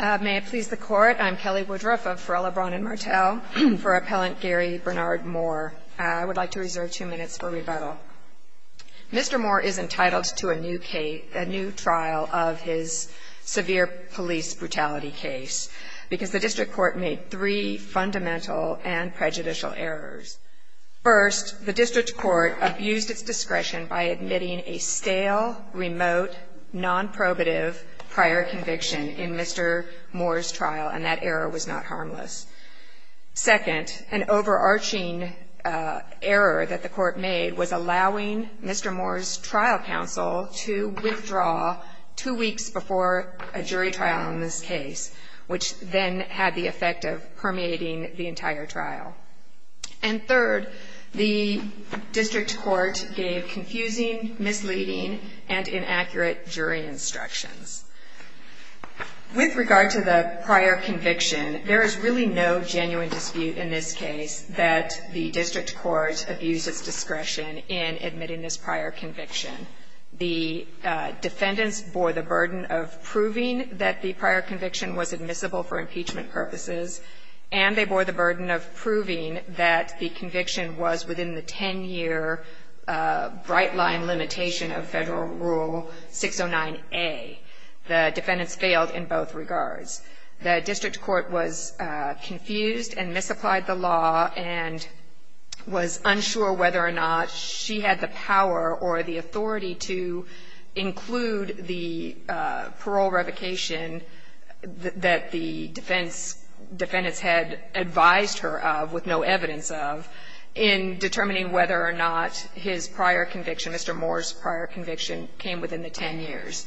May it please the Court, I'm Kelly Woodruff of Ferrella, Braun & Martel for Appellant Gary Bernard Moore. I would like to reserve two minutes for rebuttal. Mr. Moore is entitled to a new trial of his severe police brutality case because the District Court made three fundamental and prejudicial errors. First, the District Court abused its discretion by admitting a stale, remote, non-probative prior conviction in Mr. Moore's trial and that error was not harmless. Second, an overarching error that the Court made was allowing Mr. Moore's trial counsel to withdraw two weeks before a jury trial in this case, which then had the effect of permeating the entire trial. And third, the District Court gave confusing, misleading, and inaccurate jury instructions. With regard to the prior conviction, there is really no genuine dispute in this case that the District Court abused its discretion in admitting this prior conviction. The defendants bore the burden of proving that the prior conviction was admissible for impeachment purposes, and they bore the burden of proving that the conviction was within the 10-year bright-line limitation of Federal Rule 609A. The defendants failed in both regards. The District Court was confused and misapplied the law and was unsure whether or not she had the power or the authority to include the parole revocation that the defense had advised her of with no evidence of in determining whether or not his prior conviction, Mr. Moore's prior conviction, came within the 10 years.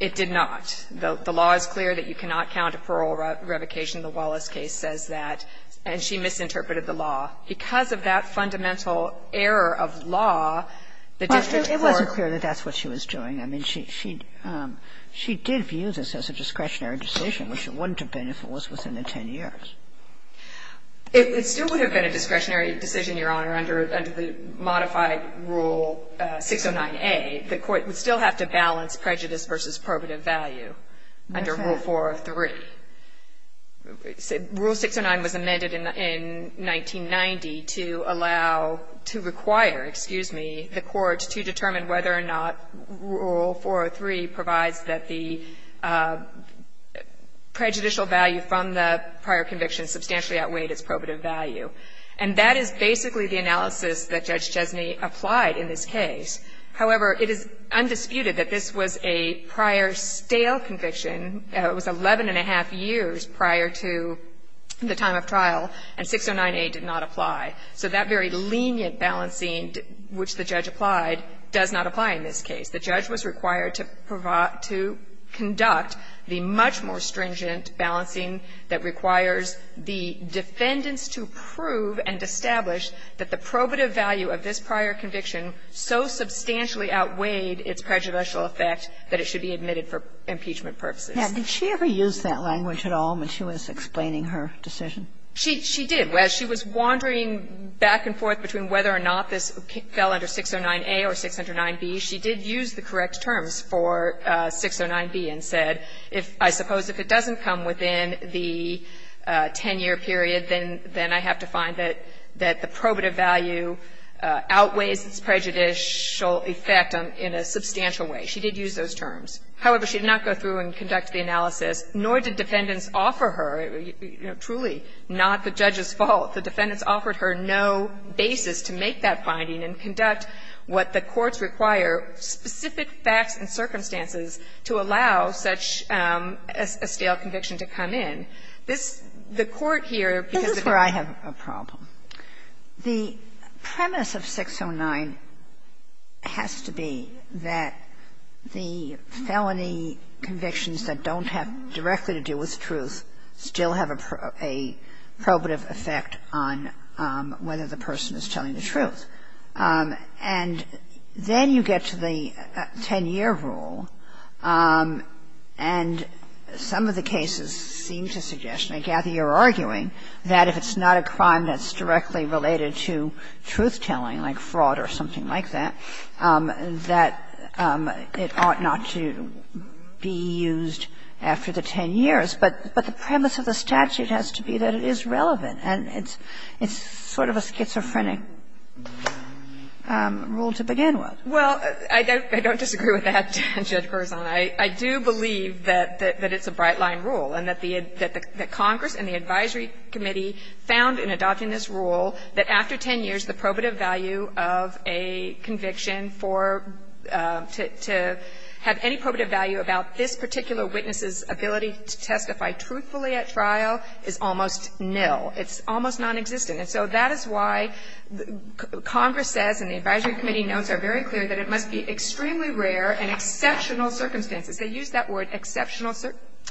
It did not. The law is clear that you cannot count a parole revocation. The Wallace case says that, and she misinterpreted the law. Because of that fundamental error of law, the District Court was unable to do so. And so the court is not going to be able to do that. value, which is a discretionary decision, which it wouldn't have been if it was within the 10 years. It still would have been a discretionary decision, Your Honor, under the modified Rule 609A. The court would still have to balance prejudice versus probative value under Rule 403. Rule 609 was amended in 1990 to allow, to require, excuse me, the court to determine whether or not Rule 403 provides that the prejudicial value from the prior conviction substantially outweighed its probative value. And that is basically the analysis that Judge Chesney applied in this case. However, it is undisputed that this was a prior stale conviction. It was 11 and a half years prior to the time of trial, and 609A did not apply. So that very lenient balancing which the judge applied does not apply in this case. The judge was required to conduct the much more stringent balancing that requires the defendants to prove and establish that the probative value of this prior conviction so substantially outweighed its prejudicial effect that it should be admitted for impeachment purposes. Sotomayor, did she ever use that language at all when she was explaining her decision? She did. As she was wandering back and forth between whether or not this fell under 609A or 609B, she did use the correct terms for 609B and said, I suppose if it doesn't come within the 10-year period, then I have to find that the probative value outweighs its prejudicial effect in a substantial way. She did use those terms. However, she did not go through and conduct the analysis, nor did defendants offer her, truly, not the judge's fault. The defendants offered her no basis to make that finding and conduct what the courts require, specific facts and circumstances, to allow such a stale conviction to come in. This, the Court here, because of the fact that this is where I have a problem. The premise of 609 has to be that the felony convictions that don't have directly to do with truth still have a probative effect on whether the person is telling the truth. And then you get to the 10-year rule, and some of the cases seem to suggest, and I think, Kathy, you're arguing, that if it's not a crime that's directly related to truth-telling, like fraud or something like that, that it ought not to be used after the 10 years. But the premise of the statute has to be that it is relevant, and it's sort of a schizophrenic rule to begin with. Well, I don't disagree with that, Judge Gerson. I do believe that it's a bright-line rule, and that the Congress and the advisory committee found in adopting this rule that after 10 years, the probative value of a conviction for to have any probative value about this particular witness's ability to testify truthfully at trial is almost nil. It's almost nonexistent. And so that is why Congress says, and the advisory committee notes are very clear, that it must be extremely rare and exceptional circumstances. They use that word, exceptional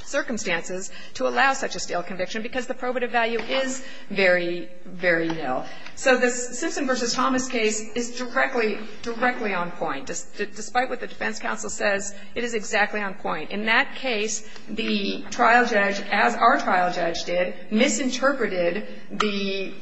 circumstances, to allow such a stale conviction because the probative value is very, very nil. So the Simpson v. Thomas case is directly, directly on point. Despite what the defense counsel says, it is exactly on point. In that case, the trial judge, as our trial judge did, misinterpreted the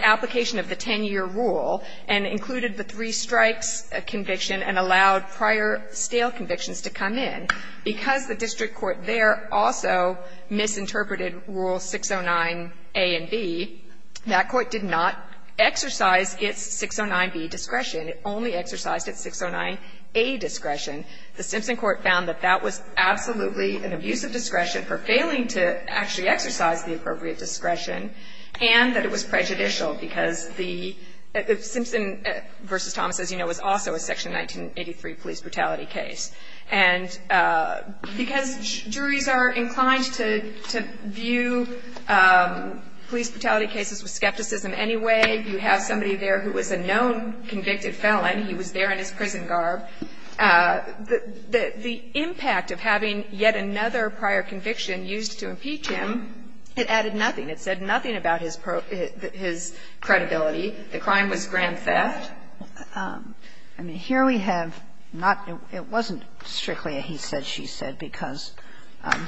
application of the 10-year rule and included the three-strikes conviction and allowed prior stale convictions to come in. Because the district court there also misinterpreted Rule 609a and b, that court did not exercise its 609b discretion. It only exercised its 609a discretion. The Simpson court found that that was absolutely an abuse of discretion for failing to actually exercise the appropriate discretion, and that it was prejudicial because the Simpson v. Thomas, as you know, was also a Section 1983 police brutality case. And because juries are inclined to view police brutality cases with skepticism anyway, you have somebody there who was a known convicted felon. He was there in his prison garb. The impact of having yet another prior conviction used to impeach him, it added nothing. It said nothing about his credibility. The crime was grand theft. I mean, here we have not the --" it wasn't strictly a he said, she said, because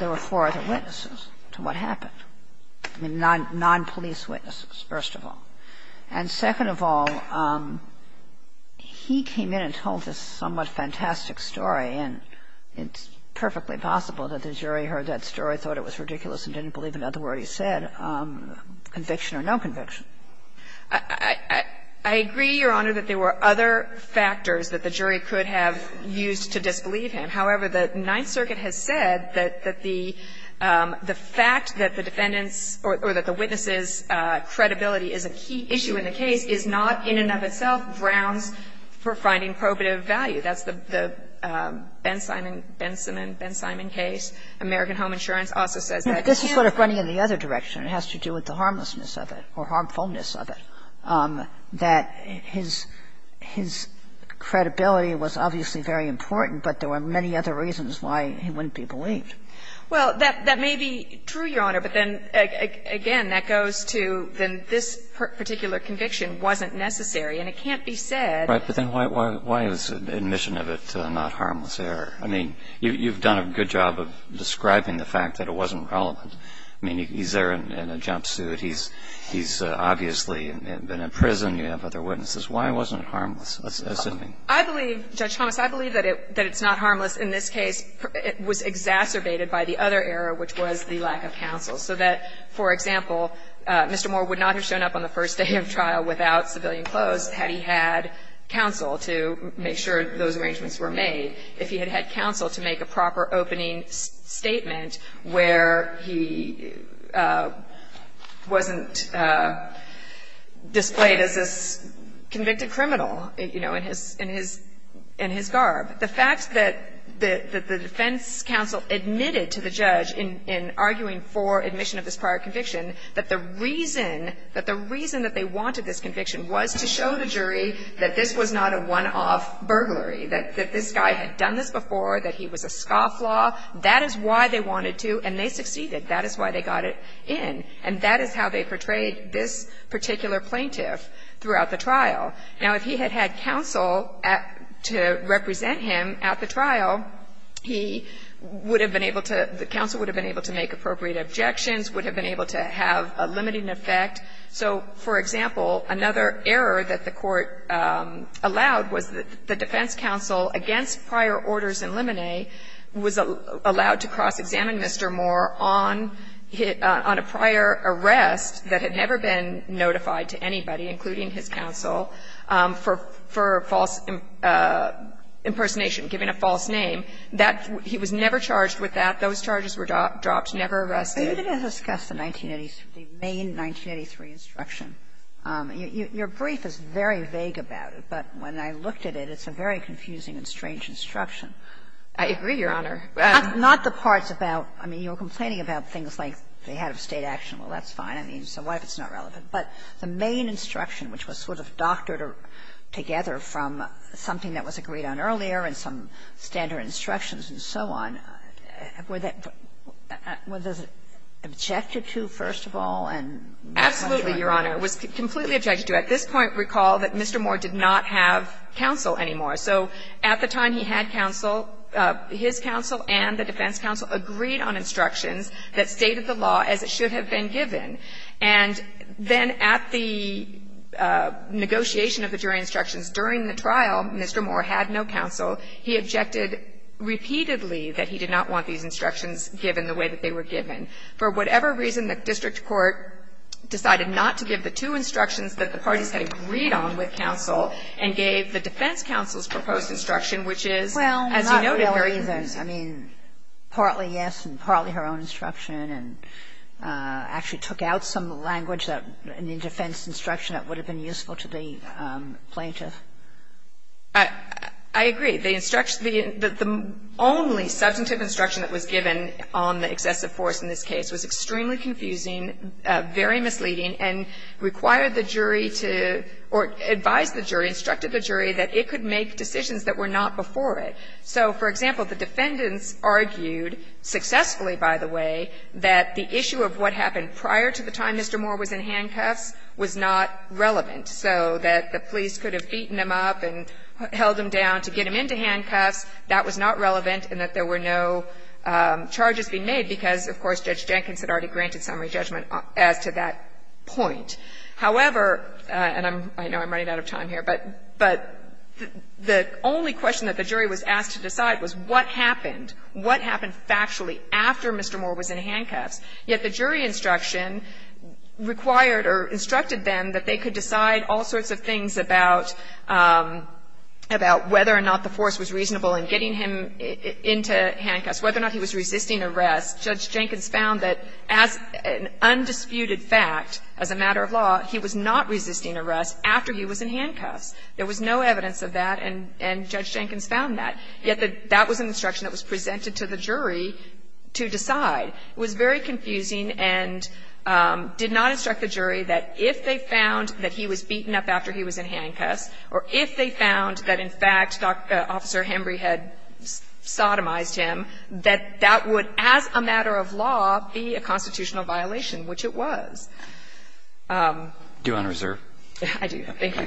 there were four other witnesses to what happened, nonpolice witnesses, first of all. And second of all, he came in and told this somewhat fantastic story, and it's perfectly possible that the jury heard that story, thought it was ridiculous, and didn't believe another word he said, conviction or no conviction. I agree, Your Honor, that there were other factors that the jury could have used to disbelieve him. However, the Ninth Circuit has said that the fact that the defendant's or that the defendant's key issue in the case is not in and of itself grounds for finding probative value. That's the Ben Simon, Ben Simon, Ben Simon case. American Home Insurance also says that. This is sort of running in the other direction. It has to do with the harmlessness of it or harmfulness of it, that his his credibility was obviously very important, but there were many other reasons why he wouldn't be believed. Well, that may be true, Your Honor, but then, again, that goes to then this particular conviction wasn't necessary, and it can't be said. Right. But then why is admission of it not harmless error? I mean, you've done a good job of describing the fact that it wasn't relevant. I mean, he's there in a jumpsuit. He's obviously been in prison. You have other witnesses. Why wasn't it harmless, assuming? I believe, Judge Thomas, I believe that it's not harmless in this case. It was exacerbated by the other error, which was the lack of counsel, so that, for example, Mr. Moore would not have shown up on the first day of trial without civilian clothes had he had counsel to make sure those arrangements were made if he had had counsel to make a proper opening statement where he wasn't displayed as this convicted criminal, you know, in his in his in his garb. The fact that the defense counsel admitted to the judge in arguing for admission of this prior conviction that the reason that the reason that they wanted this conviction was to show the jury that this was not a one-off burglary, that this guy had done this before, that he was a scofflaw, that is why they wanted to, and they succeeded. That is why they got it in. And that is how they portrayed this particular plaintiff throughout the trial. Now, if he had had counsel to represent him at the trial, he would have been able to make appropriate objections, would have been able to have a limiting effect. So, for example, another error that the Court allowed was that the defense counsel against prior orders in limine was allowed to cross-examine Mr. Moore on a prior arrest that had never been notified to anybody, including his counsel, for false impersonation, giving a false name. That he was never charged with that. Those charges were dropped, never arrested. Kagan. But you didn't discuss the 1980s, the main 1983 instruction. Your brief is very vague about it, but when I looked at it, it's a very confusing and strange instruction. I agree, Your Honor. Not the parts about, I mean, you're complaining about things like they had a State action. Well, that's fine. I mean, so what if it's not relevant? But the main instruction, which was sort of doctored together from something that was agreed on earlier and some standard instructions and so on, were that objected to, first of all? Absolutely, Your Honor. It was completely objected to. At this point, recall that Mr. Moore did not have counsel anymore. So at the time he had counsel, his counsel and the defense counsel agreed on instructions that stated the law as it should have been given. But when Mr. Moore had no counsel, he objected repeatedly that he did not want these instructions given the way that they were given. For whatever reason, the district court decided not to give the two instructions that the parties had agreed on with counsel and gave the defense counsel's proposed instruction, which is, as you noted, very confusing. Well, not really, I mean, partly yes, and partly her own instruction, and actually took out some language in the defense instruction that would have been useful to the plaintiff. I agree. The instruction the only substantive instruction that was given on the excessive force in this case was extremely confusing, very misleading, and required the jury to or advised the jury, instructed the jury that it could make decisions that were not before it. So, for example, the defendants argued, successfully, by the way, that the issue of what happened prior to the time Mr. Moore was in handcuffs was not relevant, so that the police could have beaten him up and held him down to get him into handcuffs. That was not relevant, and that there were no charges being made, because, of course, Judge Jenkins had already granted summary judgment as to that point. However, and I know I'm running out of time here, but the only question that the jury was asked to decide was what happened, what happened factually after Mr. Moore was in handcuffs. Yet the jury instruction required or instructed them that they could decide all sorts of things about whether or not the force was reasonable in getting him into handcuffs, whether or not he was resisting arrest. Judge Jenkins found that as an undisputed fact, as a matter of law, he was not resisting arrest after he was in handcuffs. There was no evidence of that, and Judge Jenkins found that. Yet that was an instruction that was presented to the jury to decide. It was very confusing and did not instruct the jury that if they found that he was beaten up after he was in handcuffs or if they found that, in fact, Officer Hembree had sodomized him, that that would, as a matter of law, be a constitutional violation, which it was. Alito, thank you.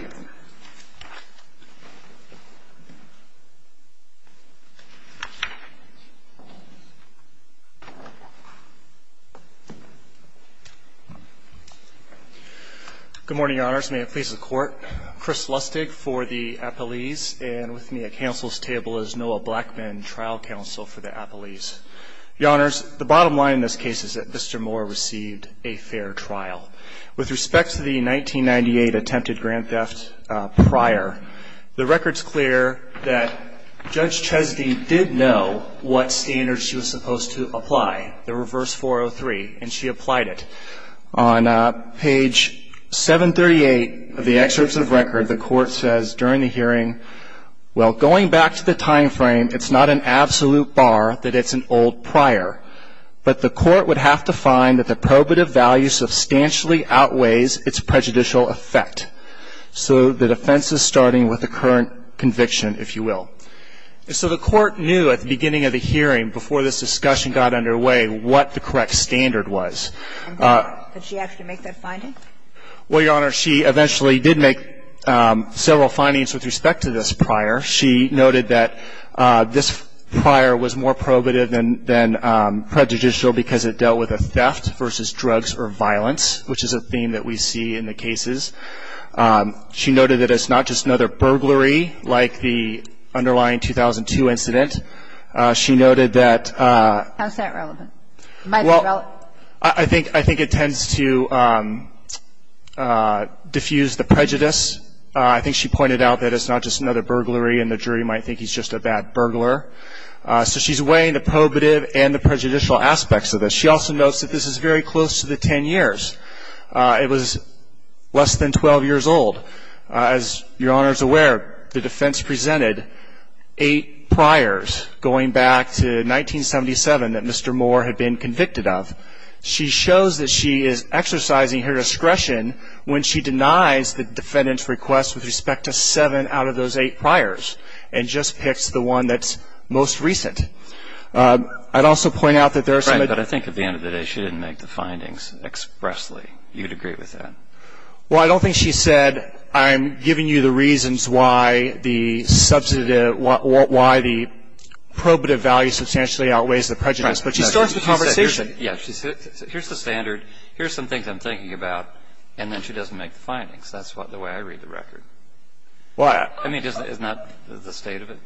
Good morning, Your Honors. May it please the Court. Chris Lustig for the appellees, and with me at counsel's table is Noah Blackman, trial counsel for the appellees. Your Honors, the bottom line in this case is that Mr. Moore received a fair trial. With respect to the 1998 attempted grand theft prior, the record's clear that Judge Chesney did know what standards she was supposed to apply, the reverse 403, and she applied it. On page 738 of the excerpts of record, the Court says during the hearing, well, going back to the time frame, it's not an absolute bar that it's an old prior, but the Court would have to find that the probative value substantially outweighs its prejudicial effect. So the defense is starting with the current conviction, if you will. So the Court knew at the beginning of the hearing, before this discussion got underway, what the correct standard was. Did she actually make that finding? Well, Your Honor, she eventually did make several findings with respect to this prior. She noted that this prior was more probative than prejudicial because it dealt with a theft versus drugs or violence, which is a theme that we see in the cases. She noted that it's not just another burglary like the underlying 2002 incident. She noted that- How is that relevant? Well, I think it tends to diffuse the prejudice. I think she pointed out that it's not just another burglary and the jury might think he's just a bad burglar. So she's weighing the probative and the prejudicial aspects of this. She also notes that this is very close to the ten years. It was less than 12 years old. As Your Honor's aware, the defense presented eight priors, going back to 1977 that Mr. Moore had been convicted of. She shows that she is exercising her discretion when she denies the defendant's request with respect to seven out of those eight priors, and just picks the one that's most recent. I'd also point out that there are some- Right, but I think at the end of the day, she didn't make the findings expressly. You'd agree with that? Well, I don't think she said, I'm giving you the reasons why the substantive, why the probative value substantially outweighs the prejudice. But she starts the conversation- Yeah, she said, here's the standard. Here's some things I'm thinking about. And then she doesn't make the findings. That's the way I read the record. Well, I- I mean, isn't that the state of it?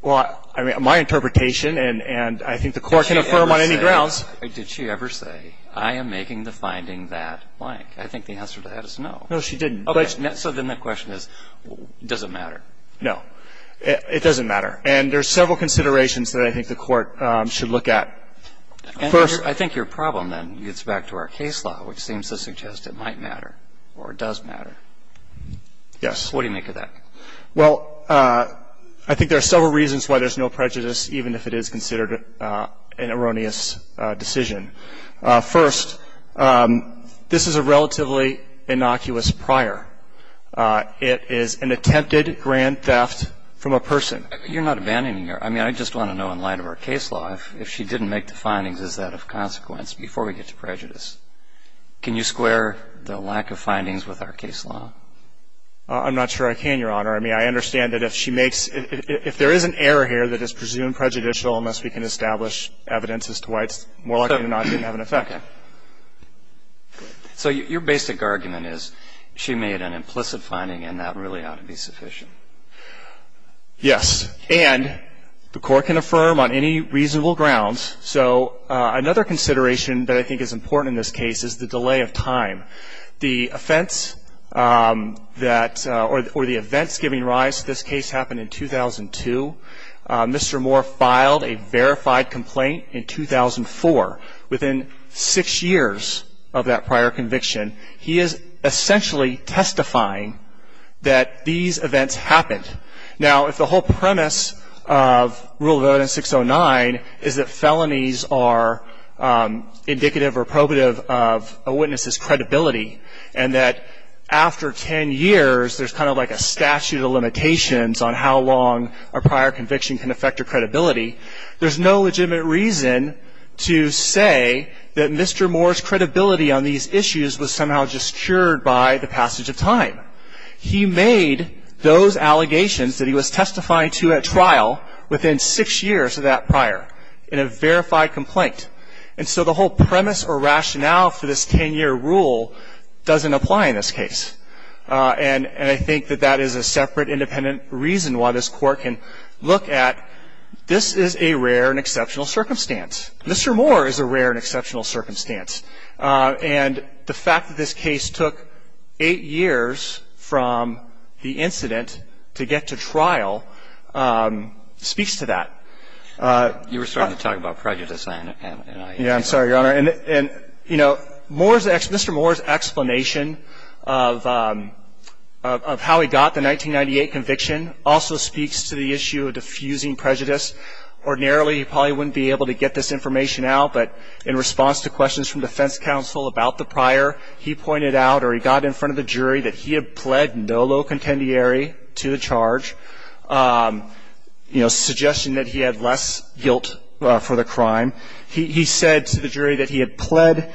Well, I mean, my interpretation, and I think the Court can affirm on any grounds- Did she ever say, I am making the finding that blank? I think the answer to that is no. No, she didn't. So then the question is, does it matter? No. And there's several considerations that I think the Court should look at. First- I think your problem, then, gets back to our case law, which seems to suggest it might matter or does matter. Yes. What do you make of that? Well, I think there are several reasons why there's no prejudice, even if it is considered an erroneous decision. First, this is a relatively innocuous prior. It is an attempted grand theft from a person. You're not abandoning her. I mean, I just want to know, in light of our case law, if she didn't make the findings, is that of consequence before we get to prejudice? Can you square the lack of findings with our case law? I'm not sure I can, Your Honor. I mean, I understand that if she makes- If there is an error here that is presumed prejudicial, unless we can establish evidence as to why it's more likely to not even have an effect. So your basic argument is she made an implicit finding, and that really ought to be sufficient. Yes. And the Court can affirm on any reasonable grounds. So another consideration that I think is important in this case is the delay of time. The offense that, or the events giving rise to this case happened in 2002. Mr. Moore filed a verified complaint in 2004. Within six years of that prior conviction, he is essentially testifying that these events happened. Now, if the whole premise of Rule of Evidence 609 is that felonies are indicative or probative of a witness's credibility, and that after 10 years, there's kind of like a statute of limitations on how long a prior conviction can affect your credibility, there's no legitimate reason to say that Mr. Moore's credibility on these issues was somehow just cured by the passage of time. He made those allegations that he was testifying to at trial within six years of that prior in a verified complaint. And so the whole premise or rationale for this 10-year rule doesn't apply in this case. And I think that that is a separate independent reason why this Court can look at, this is a rare and exceptional circumstance. Mr. Moore is a rare and exceptional circumstance. And the fact that this case took eight years from the incident to get to trial speaks to that. You were starting to talk about prejudice, and I- Yeah, I'm sorry, Your Honor. And, you know, Mr. Moore's explanation of how he got the 1998 conviction also speaks to the issue of diffusing prejudice. Ordinarily, he probably wouldn't be able to get this information out, but in response to questions from defense counsel about the prior, he pointed out or he got in front of the jury that he had pled no low contendieri to the charge, you know, suggesting that he had less guilt for the crime. He said to the jury that he had pled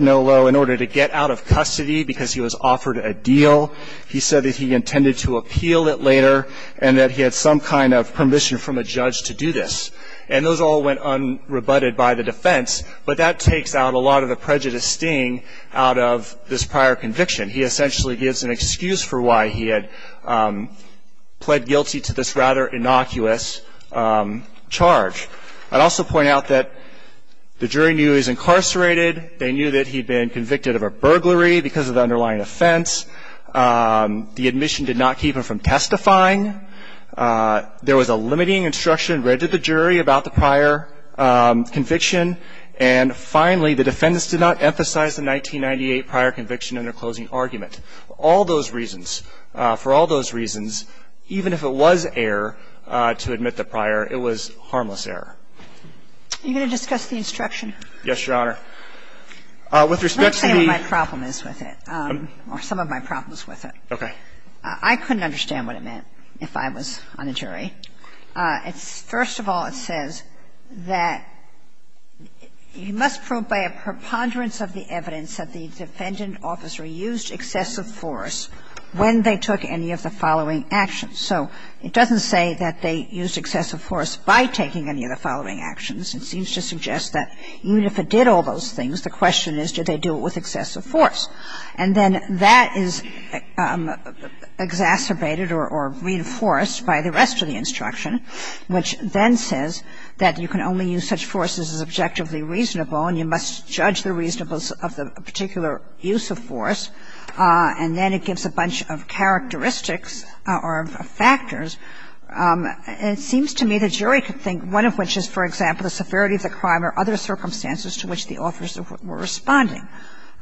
no low in order to get out of custody because he was offered a deal. He said that he intended to appeal it later and that he had some kind of permission from a judge to do this. And those all went unrebutted by the defense, but that takes out a lot of the prejudice sting out of this prior conviction. He essentially gives an excuse for why he had pled guilty to this rather innocuous charge. I'd also point out that the jury knew he was incarcerated. They knew that he'd been convicted of a burglary because of the underlying offense. The admission did not keep him from testifying. There was a limiting instruction read to the jury about the prior conviction. And finally, the defendants did not emphasize the 1998 prior conviction in their closing argument. All those reasons, for all those reasons, even if it was error to admit the prior, it was harmless error. Are you going to discuss the instruction? Yes, Your Honor. With respect to the ---- I'm not going to say what my problem is with it or some of my problems with it. Okay. I couldn't understand what it meant if I was on a jury. It's – first of all, it says that you must prove by a preponderance of the evidence that the defendant officer used excessive force when they took any of the following actions. So it doesn't say that they used excessive force by taking any of the following actions. It seems to suggest that even if it did all those things, the question is, did they do it with excessive force? And then that is exacerbated or reinforced by the rest of the instruction, which then says that you can only use such force as is objectively reasonable and you must judge the reasonableness of the particular use of force. And then it gives a bunch of characteristics or factors. And it seems to me the jury could think, one of which is, for example, the severity of the crime or other circumstances to which the officers were responding.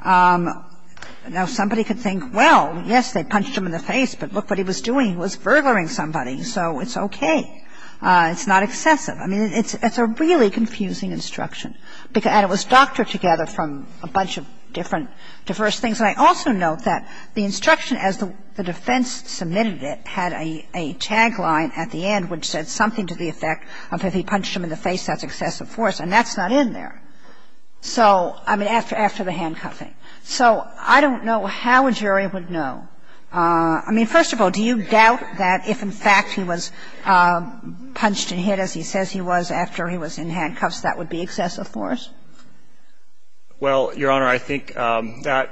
Now, somebody could think, well, yes, they punched him in the face, but look what he was doing. He was burglaring somebody, so it's okay. It's not excessive. I mean, it's a really confusing instruction. And it was doctored together from a bunch of different diverse things. And I also note that the instruction, as the defense submitted it, had a tagline at the end which said something to the effect of if he punched him in the face, that's excessive force, and that's not in there. So, I mean, after the handcuffing. So I don't know how a jury would know. I mean, first of all, do you doubt that if, in fact, he was punched and hit as he says he was after he was in handcuffs, that would be excessive force? Well, Your Honor, I think that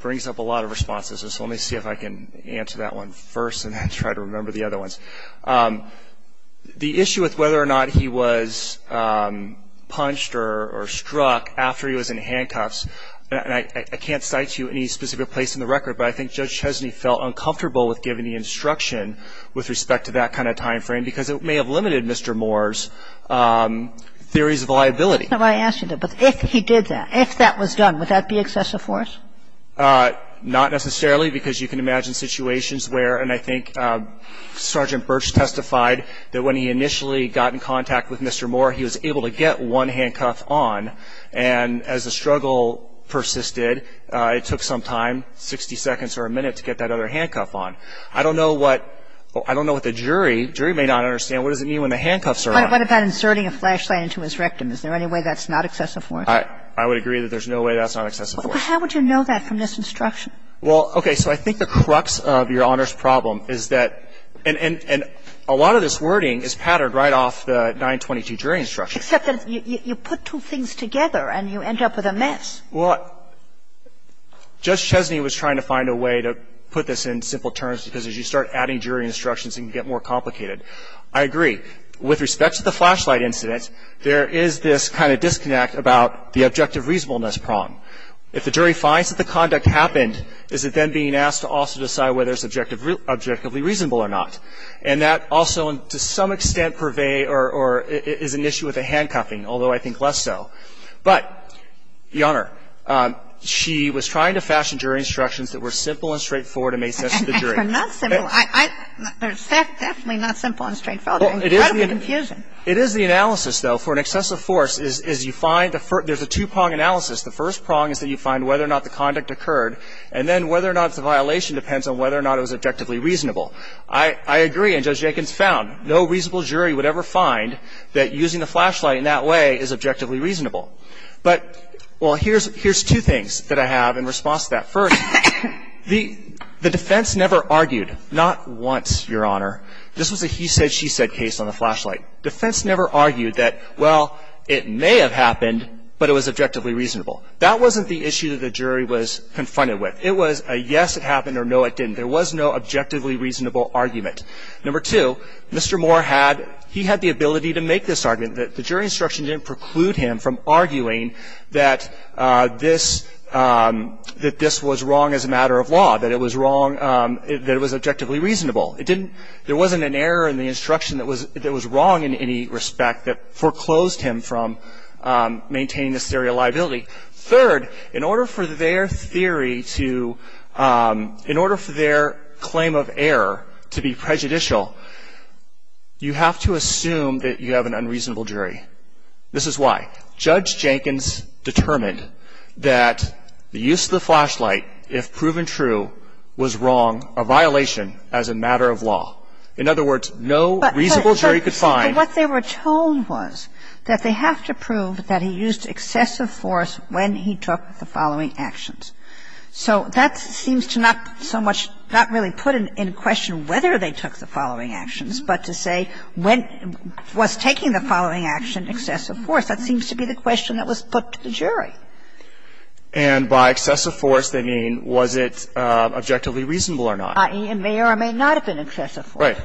brings up a lot of responses. So let me see if I can answer that one first and then try to remember the other ones. The issue with whether or not he was punched or struck after he was in handcuffs, and I can't cite you any specific place in the record, but I think Judge Chesney felt uncomfortable with giving the instruction with respect to that kind of time frame because it may have limited Mr. Moore's theories of liability. That's not why I asked you that. But if he did that, if that was done, would that be excessive force? Not necessarily, because you can imagine situations where, and I think Sergeant Birch testified that when he initially got in contact with Mr. Moore, he was able to get one handcuff on, and as the struggle persisted, it took some time, 60 seconds or a minute, to get that other handcuff on. I don't know what the jury may not understand. What does it mean when the handcuffs are on? What about inserting a flashlight into his rectum? Is there any way that's not excessive force? I would agree that there's no way that's not excessive force. But how would you know that from this instruction? Well, okay. So I think the crux of Your Honor's problem is that, and a lot of this wording is patterned right off the 922 jury instruction. Except that you put two things together and you end up with a mess. Well, Judge Chesney was trying to find a way to put this in simple terms because as you start adding jury instructions, it can get more complicated. I agree. With respect to the flashlight incident, there is this kind of disconnect about the objective reasonableness problem. If the jury finds that the conduct happened, is it then being asked to also decide whether it's objectively reasonable or not? And that also, to some extent, purvey or is an issue with the handcuffing, although I think less so. But, Your Honor, she was trying to fashion jury instructions that were simple and straightforward and made sense to the jury. They're not simple. They're definitely not simple and straightforward. Incredible confusion. It is the analysis, though, for an excessive force, is you find there's a two-prong analysis. The first prong is that you find whether or not the conduct occurred. And then whether or not it's a violation depends on whether or not it was objectively reasonable. I agree. And Judge Jenkins found no reasonable jury would ever find that using the flashlight in that way is objectively reasonable. But, well, here's two things that I have in response to that. First, the defense never argued, not once, Your Honor. This was a he said, she said case on the flashlight. Defense never argued that, well, it may have happened, but it was objectively reasonable. That wasn't the issue that the jury was confronted with. It was a yes, it happened, or no, it didn't. There was no objectively reasonable argument. Number two, Mr. Moore had, he had the ability to make this argument that the jury instruction didn't preclude him from arguing that this, that this was wrong as a matter of law, that it was wrong, that it was objectively reasonable. It didn't, there wasn't an error in the instruction that was, that was wrong in any respect that foreclosed him from maintaining the theory of liability. Third, in order for their theory to, in order for their claim of error to be prejudicial, you have to assume that you have an unreasonable jury. This is why. Judge Jenkins determined that the use of the flashlight, if proven true, was wrong, a violation as a matter of law. In other words, no reasonable jury could find that. Kagan. But what they were told was that they have to prove that he used excessive force when he took the following actions. So that seems to not so much, not really put in question whether they took the following actions, but to say when, was taking the following action excessive force. That seems to be the question that was put to the jury. And by excessive force, they mean was it objectively reasonable or not. It may or may not have been excessive force. Right.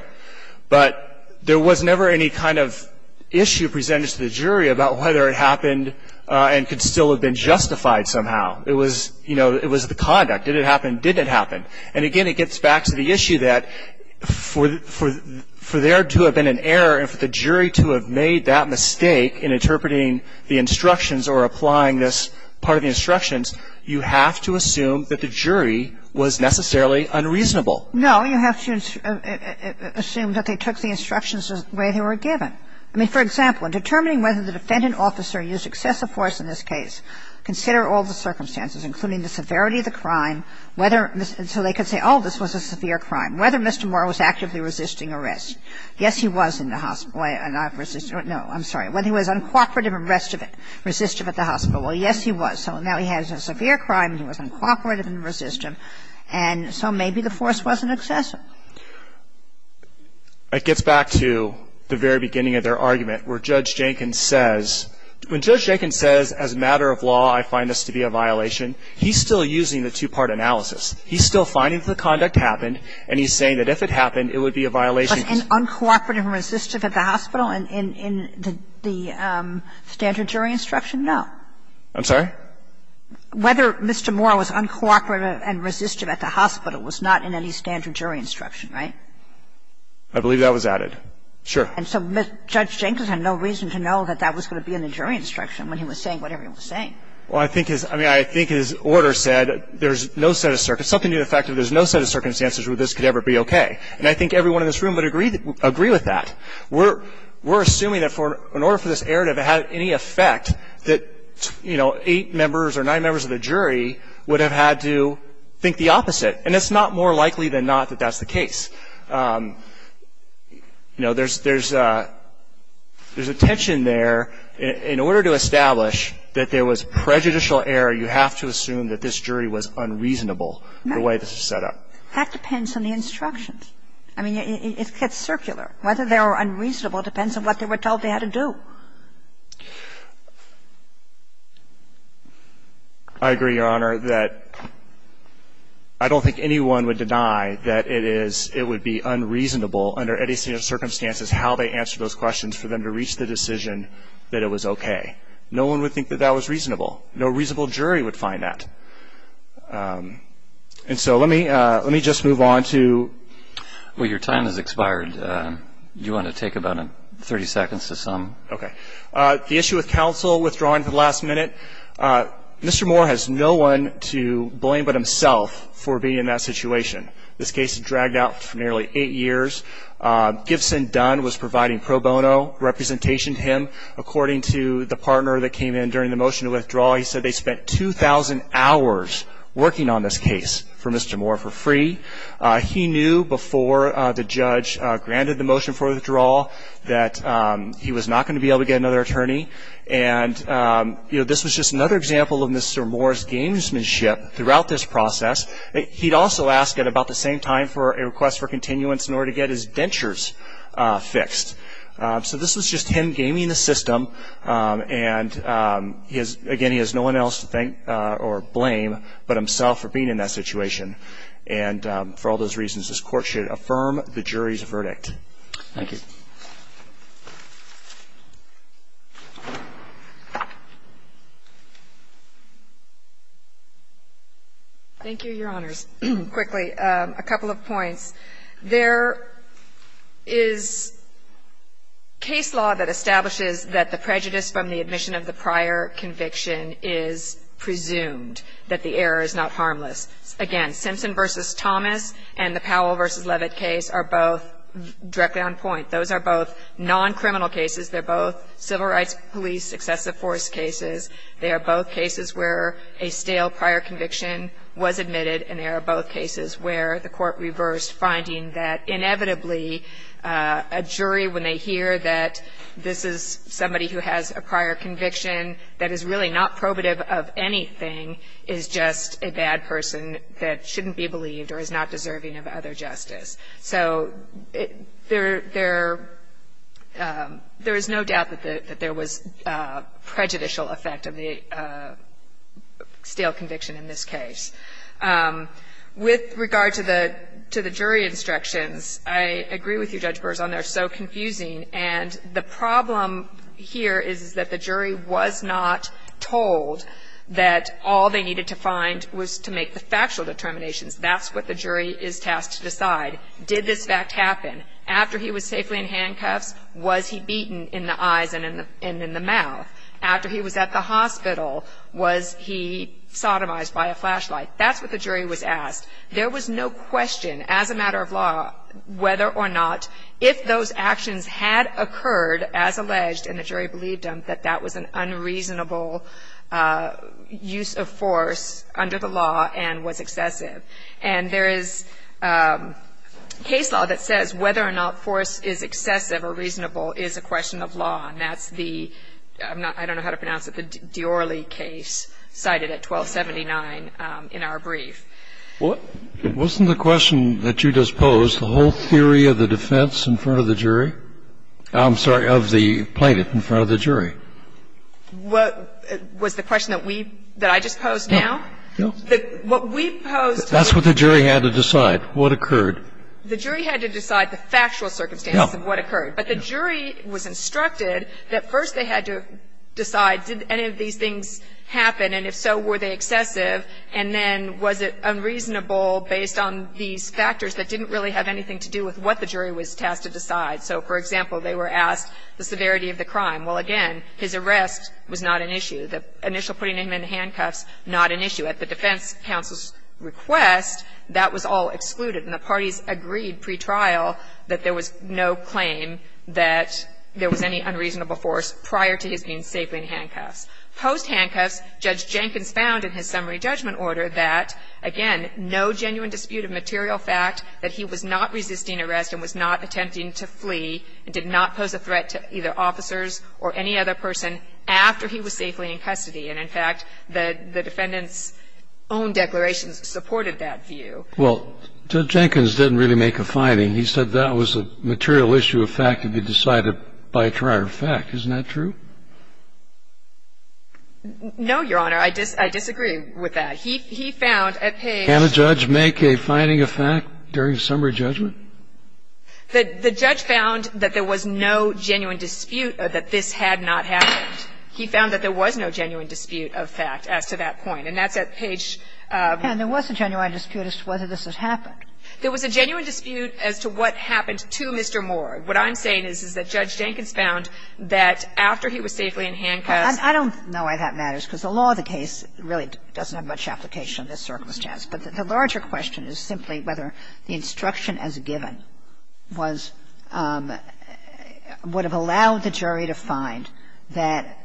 But there was never any kind of issue presented to the jury about whether it happened and could still have been justified somehow. It was, you know, it was the conduct. Did it happen? Did it happen? And again, it gets back to the issue that for there to have been an error and for the jury to have made that mistake in interpreting the instructions or applying this part of the instructions, you have to assume that the jury was necessarily unreasonable. No. You have to assume that they took the instructions the way they were given. I mean, for example, in determining whether the defendant officer used excessive force in this case, consider all the circumstances, including the severity of the crime, whether they could say, oh, this was a severe crime. Whether Mr. Moore was actively resisting arrest. Yes, he was in the hospital. No, I'm sorry. Whether he was uncooperative and resistive at the hospital. Well, yes, he was. So now he has a severe crime and he was uncooperative and resistive. And so maybe the force wasn't excessive. It gets back to the very beginning of their argument where Judge Jenkins says, when Judge Jenkins says, as a matter of law, I find this to be a violation, he's still using the two-part analysis. He's still finding that the conduct happened, and he's saying that if it happened, it would be a violation. Was he uncooperative and resistive at the hospital in the standard jury instruction? No. I'm sorry? Whether Mr. Moore was uncooperative and resistive at the hospital was not in any standard jury instruction, right? I believe that was added. Sure. And so Judge Jenkins had no reason to know that that was going to be in the jury instruction when he was saying what everyone was saying. Well, I think his order said there's no set of circumstances, something to do with the fact that there's no set of circumstances where this could ever be okay. And I think everyone in this room would agree with that. We're assuming that in order for this error to have had any effect, that, you know, eight members or nine members of the jury would have had to think the opposite. And it's not more likely than not that that's the case. You know, there's a tension there. In order to establish that there was prejudicial error, you have to assume that this jury was unreasonable the way this was set up. No. That depends on the instructions. I mean, it gets circular. Whether they were unreasonable depends on what they were told they had to do. I agree, Your Honor, that I don't think anyone would deny that it is – it was the under any set of circumstances how they answered those questions for them to reach the decision that it was okay. No one would think that that was reasonable. No reasonable jury would find that. And so let me just move on to – Well, your time has expired. Do you want to take about 30 seconds to sum? Okay. The issue with counsel withdrawing at the last minute. Mr. Moore has no one to blame but himself for being in that situation. This case has dragged out for nearly eight years. Gibson Dunn was providing pro bono representation to him. According to the partner that came in during the motion to withdraw, he said they spent 2,000 hours working on this case for Mr. Moore for free. He knew before the judge granted the motion for withdrawal that he was not going to be able to get another attorney. And, you know, this was just another example of Mr. Moore's gamesmanship throughout this process. He'd also ask at about the same time for a request for continuance in order to get his dentures fixed. So this was just him gaming the system. And, again, he has no one else to thank or blame but himself for being in that situation. And for all those reasons, this Court should affirm the jury's verdict. Thank you. Thank you, Your Honors. Quickly, a couple of points. There is case law that establishes that the prejudice from the admission of the prior conviction is presumed, that the error is not harmless. Again, Simpson v. Thomas and the Powell v. Levitt case are both directly on point. Those are both non-criminal cases. They're both civil rights police excessive force cases. They are both cases where a stale prior conviction was admitted, and they are both cases where the Court reversed finding that inevitably a jury, when they hear that this is somebody who has a prior conviction that is really not probative of anything, is just a bad person that shouldn't be believed or is not deserving of other justice. So there is no doubt that there was prejudicial effect of the stale conviction in this case. With regard to the jury instructions, I agree with you, Judge Burrson. They're so confusing. And the problem here is that the jury was not told that all they needed to find was to make the factual determinations. That's what the jury is tasked to decide. Did this fact happen? After he was safely in handcuffs, was he beaten in the eyes and in the mouth? After he was at the hospital, was he sodomized by a flashlight? That's what the jury was asked. There was no question, as a matter of law, whether or not if those actions had occurred, as alleged, and the jury believed them, that that was an unreasonable use of force under the law and was excessive. And there is case law that says whether or not force is excessive or reasonable is a question of law, and that's the — I don't know how to pronounce it — the Diorle case cited at 1279 in our brief. Wasn't the question that you just posed the whole theory of the defense in front of the jury? I'm sorry, of the plaintiff in front of the jury. Was the question that we — that I just posed now? No. What we posed — That's what the jury had to decide. What occurred? The jury had to decide the factual circumstances of what occurred. But the jury was instructed that first they had to decide did any of these things happen, and if so, were they excessive, and then was it unreasonable based on these factors that didn't really have anything to do with what the jury was tasked to decide. So, for example, they were asked the severity of the crime. Well, again, his arrest was not an issue. The initial putting him in handcuffs, not an issue. At the defense counsel's request, that was all excluded, and the parties agreed pretrial that there was no claim that there was any unreasonable force prior to his being safely in handcuffs. Post-handcuffs, Judge Jenkins found in his summary judgment order that, again, no genuine dispute of material fact that he was not resisting arrest and was not attempting to flee and did not pose a threat to either officers or any other person after he was safely in custody. And, in fact, the defendant's own declarations supported that view. Well, Judge Jenkins didn't really make a finding. He said that was a material issue of fact to be decided by prior fact. Isn't that true? No, Your Honor. I disagree with that. He found at page — Can a judge make a finding of fact during summary judgment? The judge found that there was no genuine dispute or that this had not happened. He found that there was no genuine dispute of fact as to that point. And that's at page — And there was a genuine dispute as to whether this had happened. There was a genuine dispute as to what happened to Mr. Moore. What I'm saying is, is that Judge Jenkins found that after he was safely in handcuffs — I don't know why that matters, because the law of the case really doesn't have much application in this circumstance. But the larger question is simply whether the instruction as given was — would have allowed the jury to find that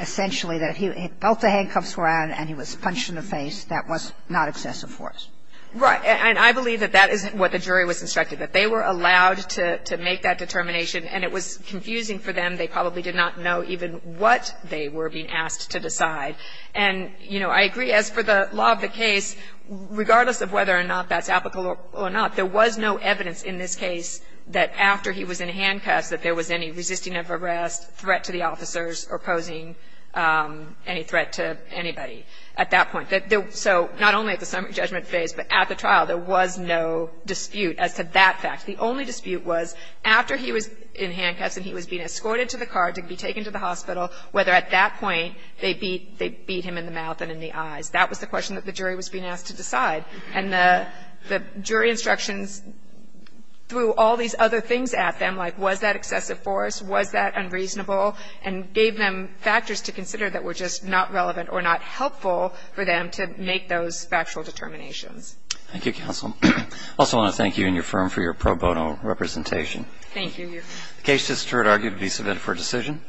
essentially that he — both the handcuffs were on and he was punched in the face. That was not excessive force. Right. And I believe that that is what the jury was instructed, that they were allowed to make that determination, and it was confusing for them. They probably did not know even what they were being asked to decide. And, you know, I agree as for the law of the case, regardless of whether or not that's applicable or not, there was no evidence in this case that after he was in handcuffs that there was any resisting of arrest, threat to the officers, or posing any threat to anybody at that point. So not only at the summary judgment phase, but at the trial, there was no dispute as to that fact. The only dispute was after he was in handcuffs and he was being escorted to the car to be taken to the hospital, whether at that point they beat — they beat him in the mouth and in the eyes. That was the question that the jury was being asked to decide. And the jury instructions threw all these other things at them, like was that excessive force, was that unreasonable, and gave them factors to consider that were just not relevant or not helpful for them to make those factual determinations. Thank you, counsel. I also want to thank you and your firm for your pro bono representation. Thank you. The case is, it's heard argued, to be submitted for decision.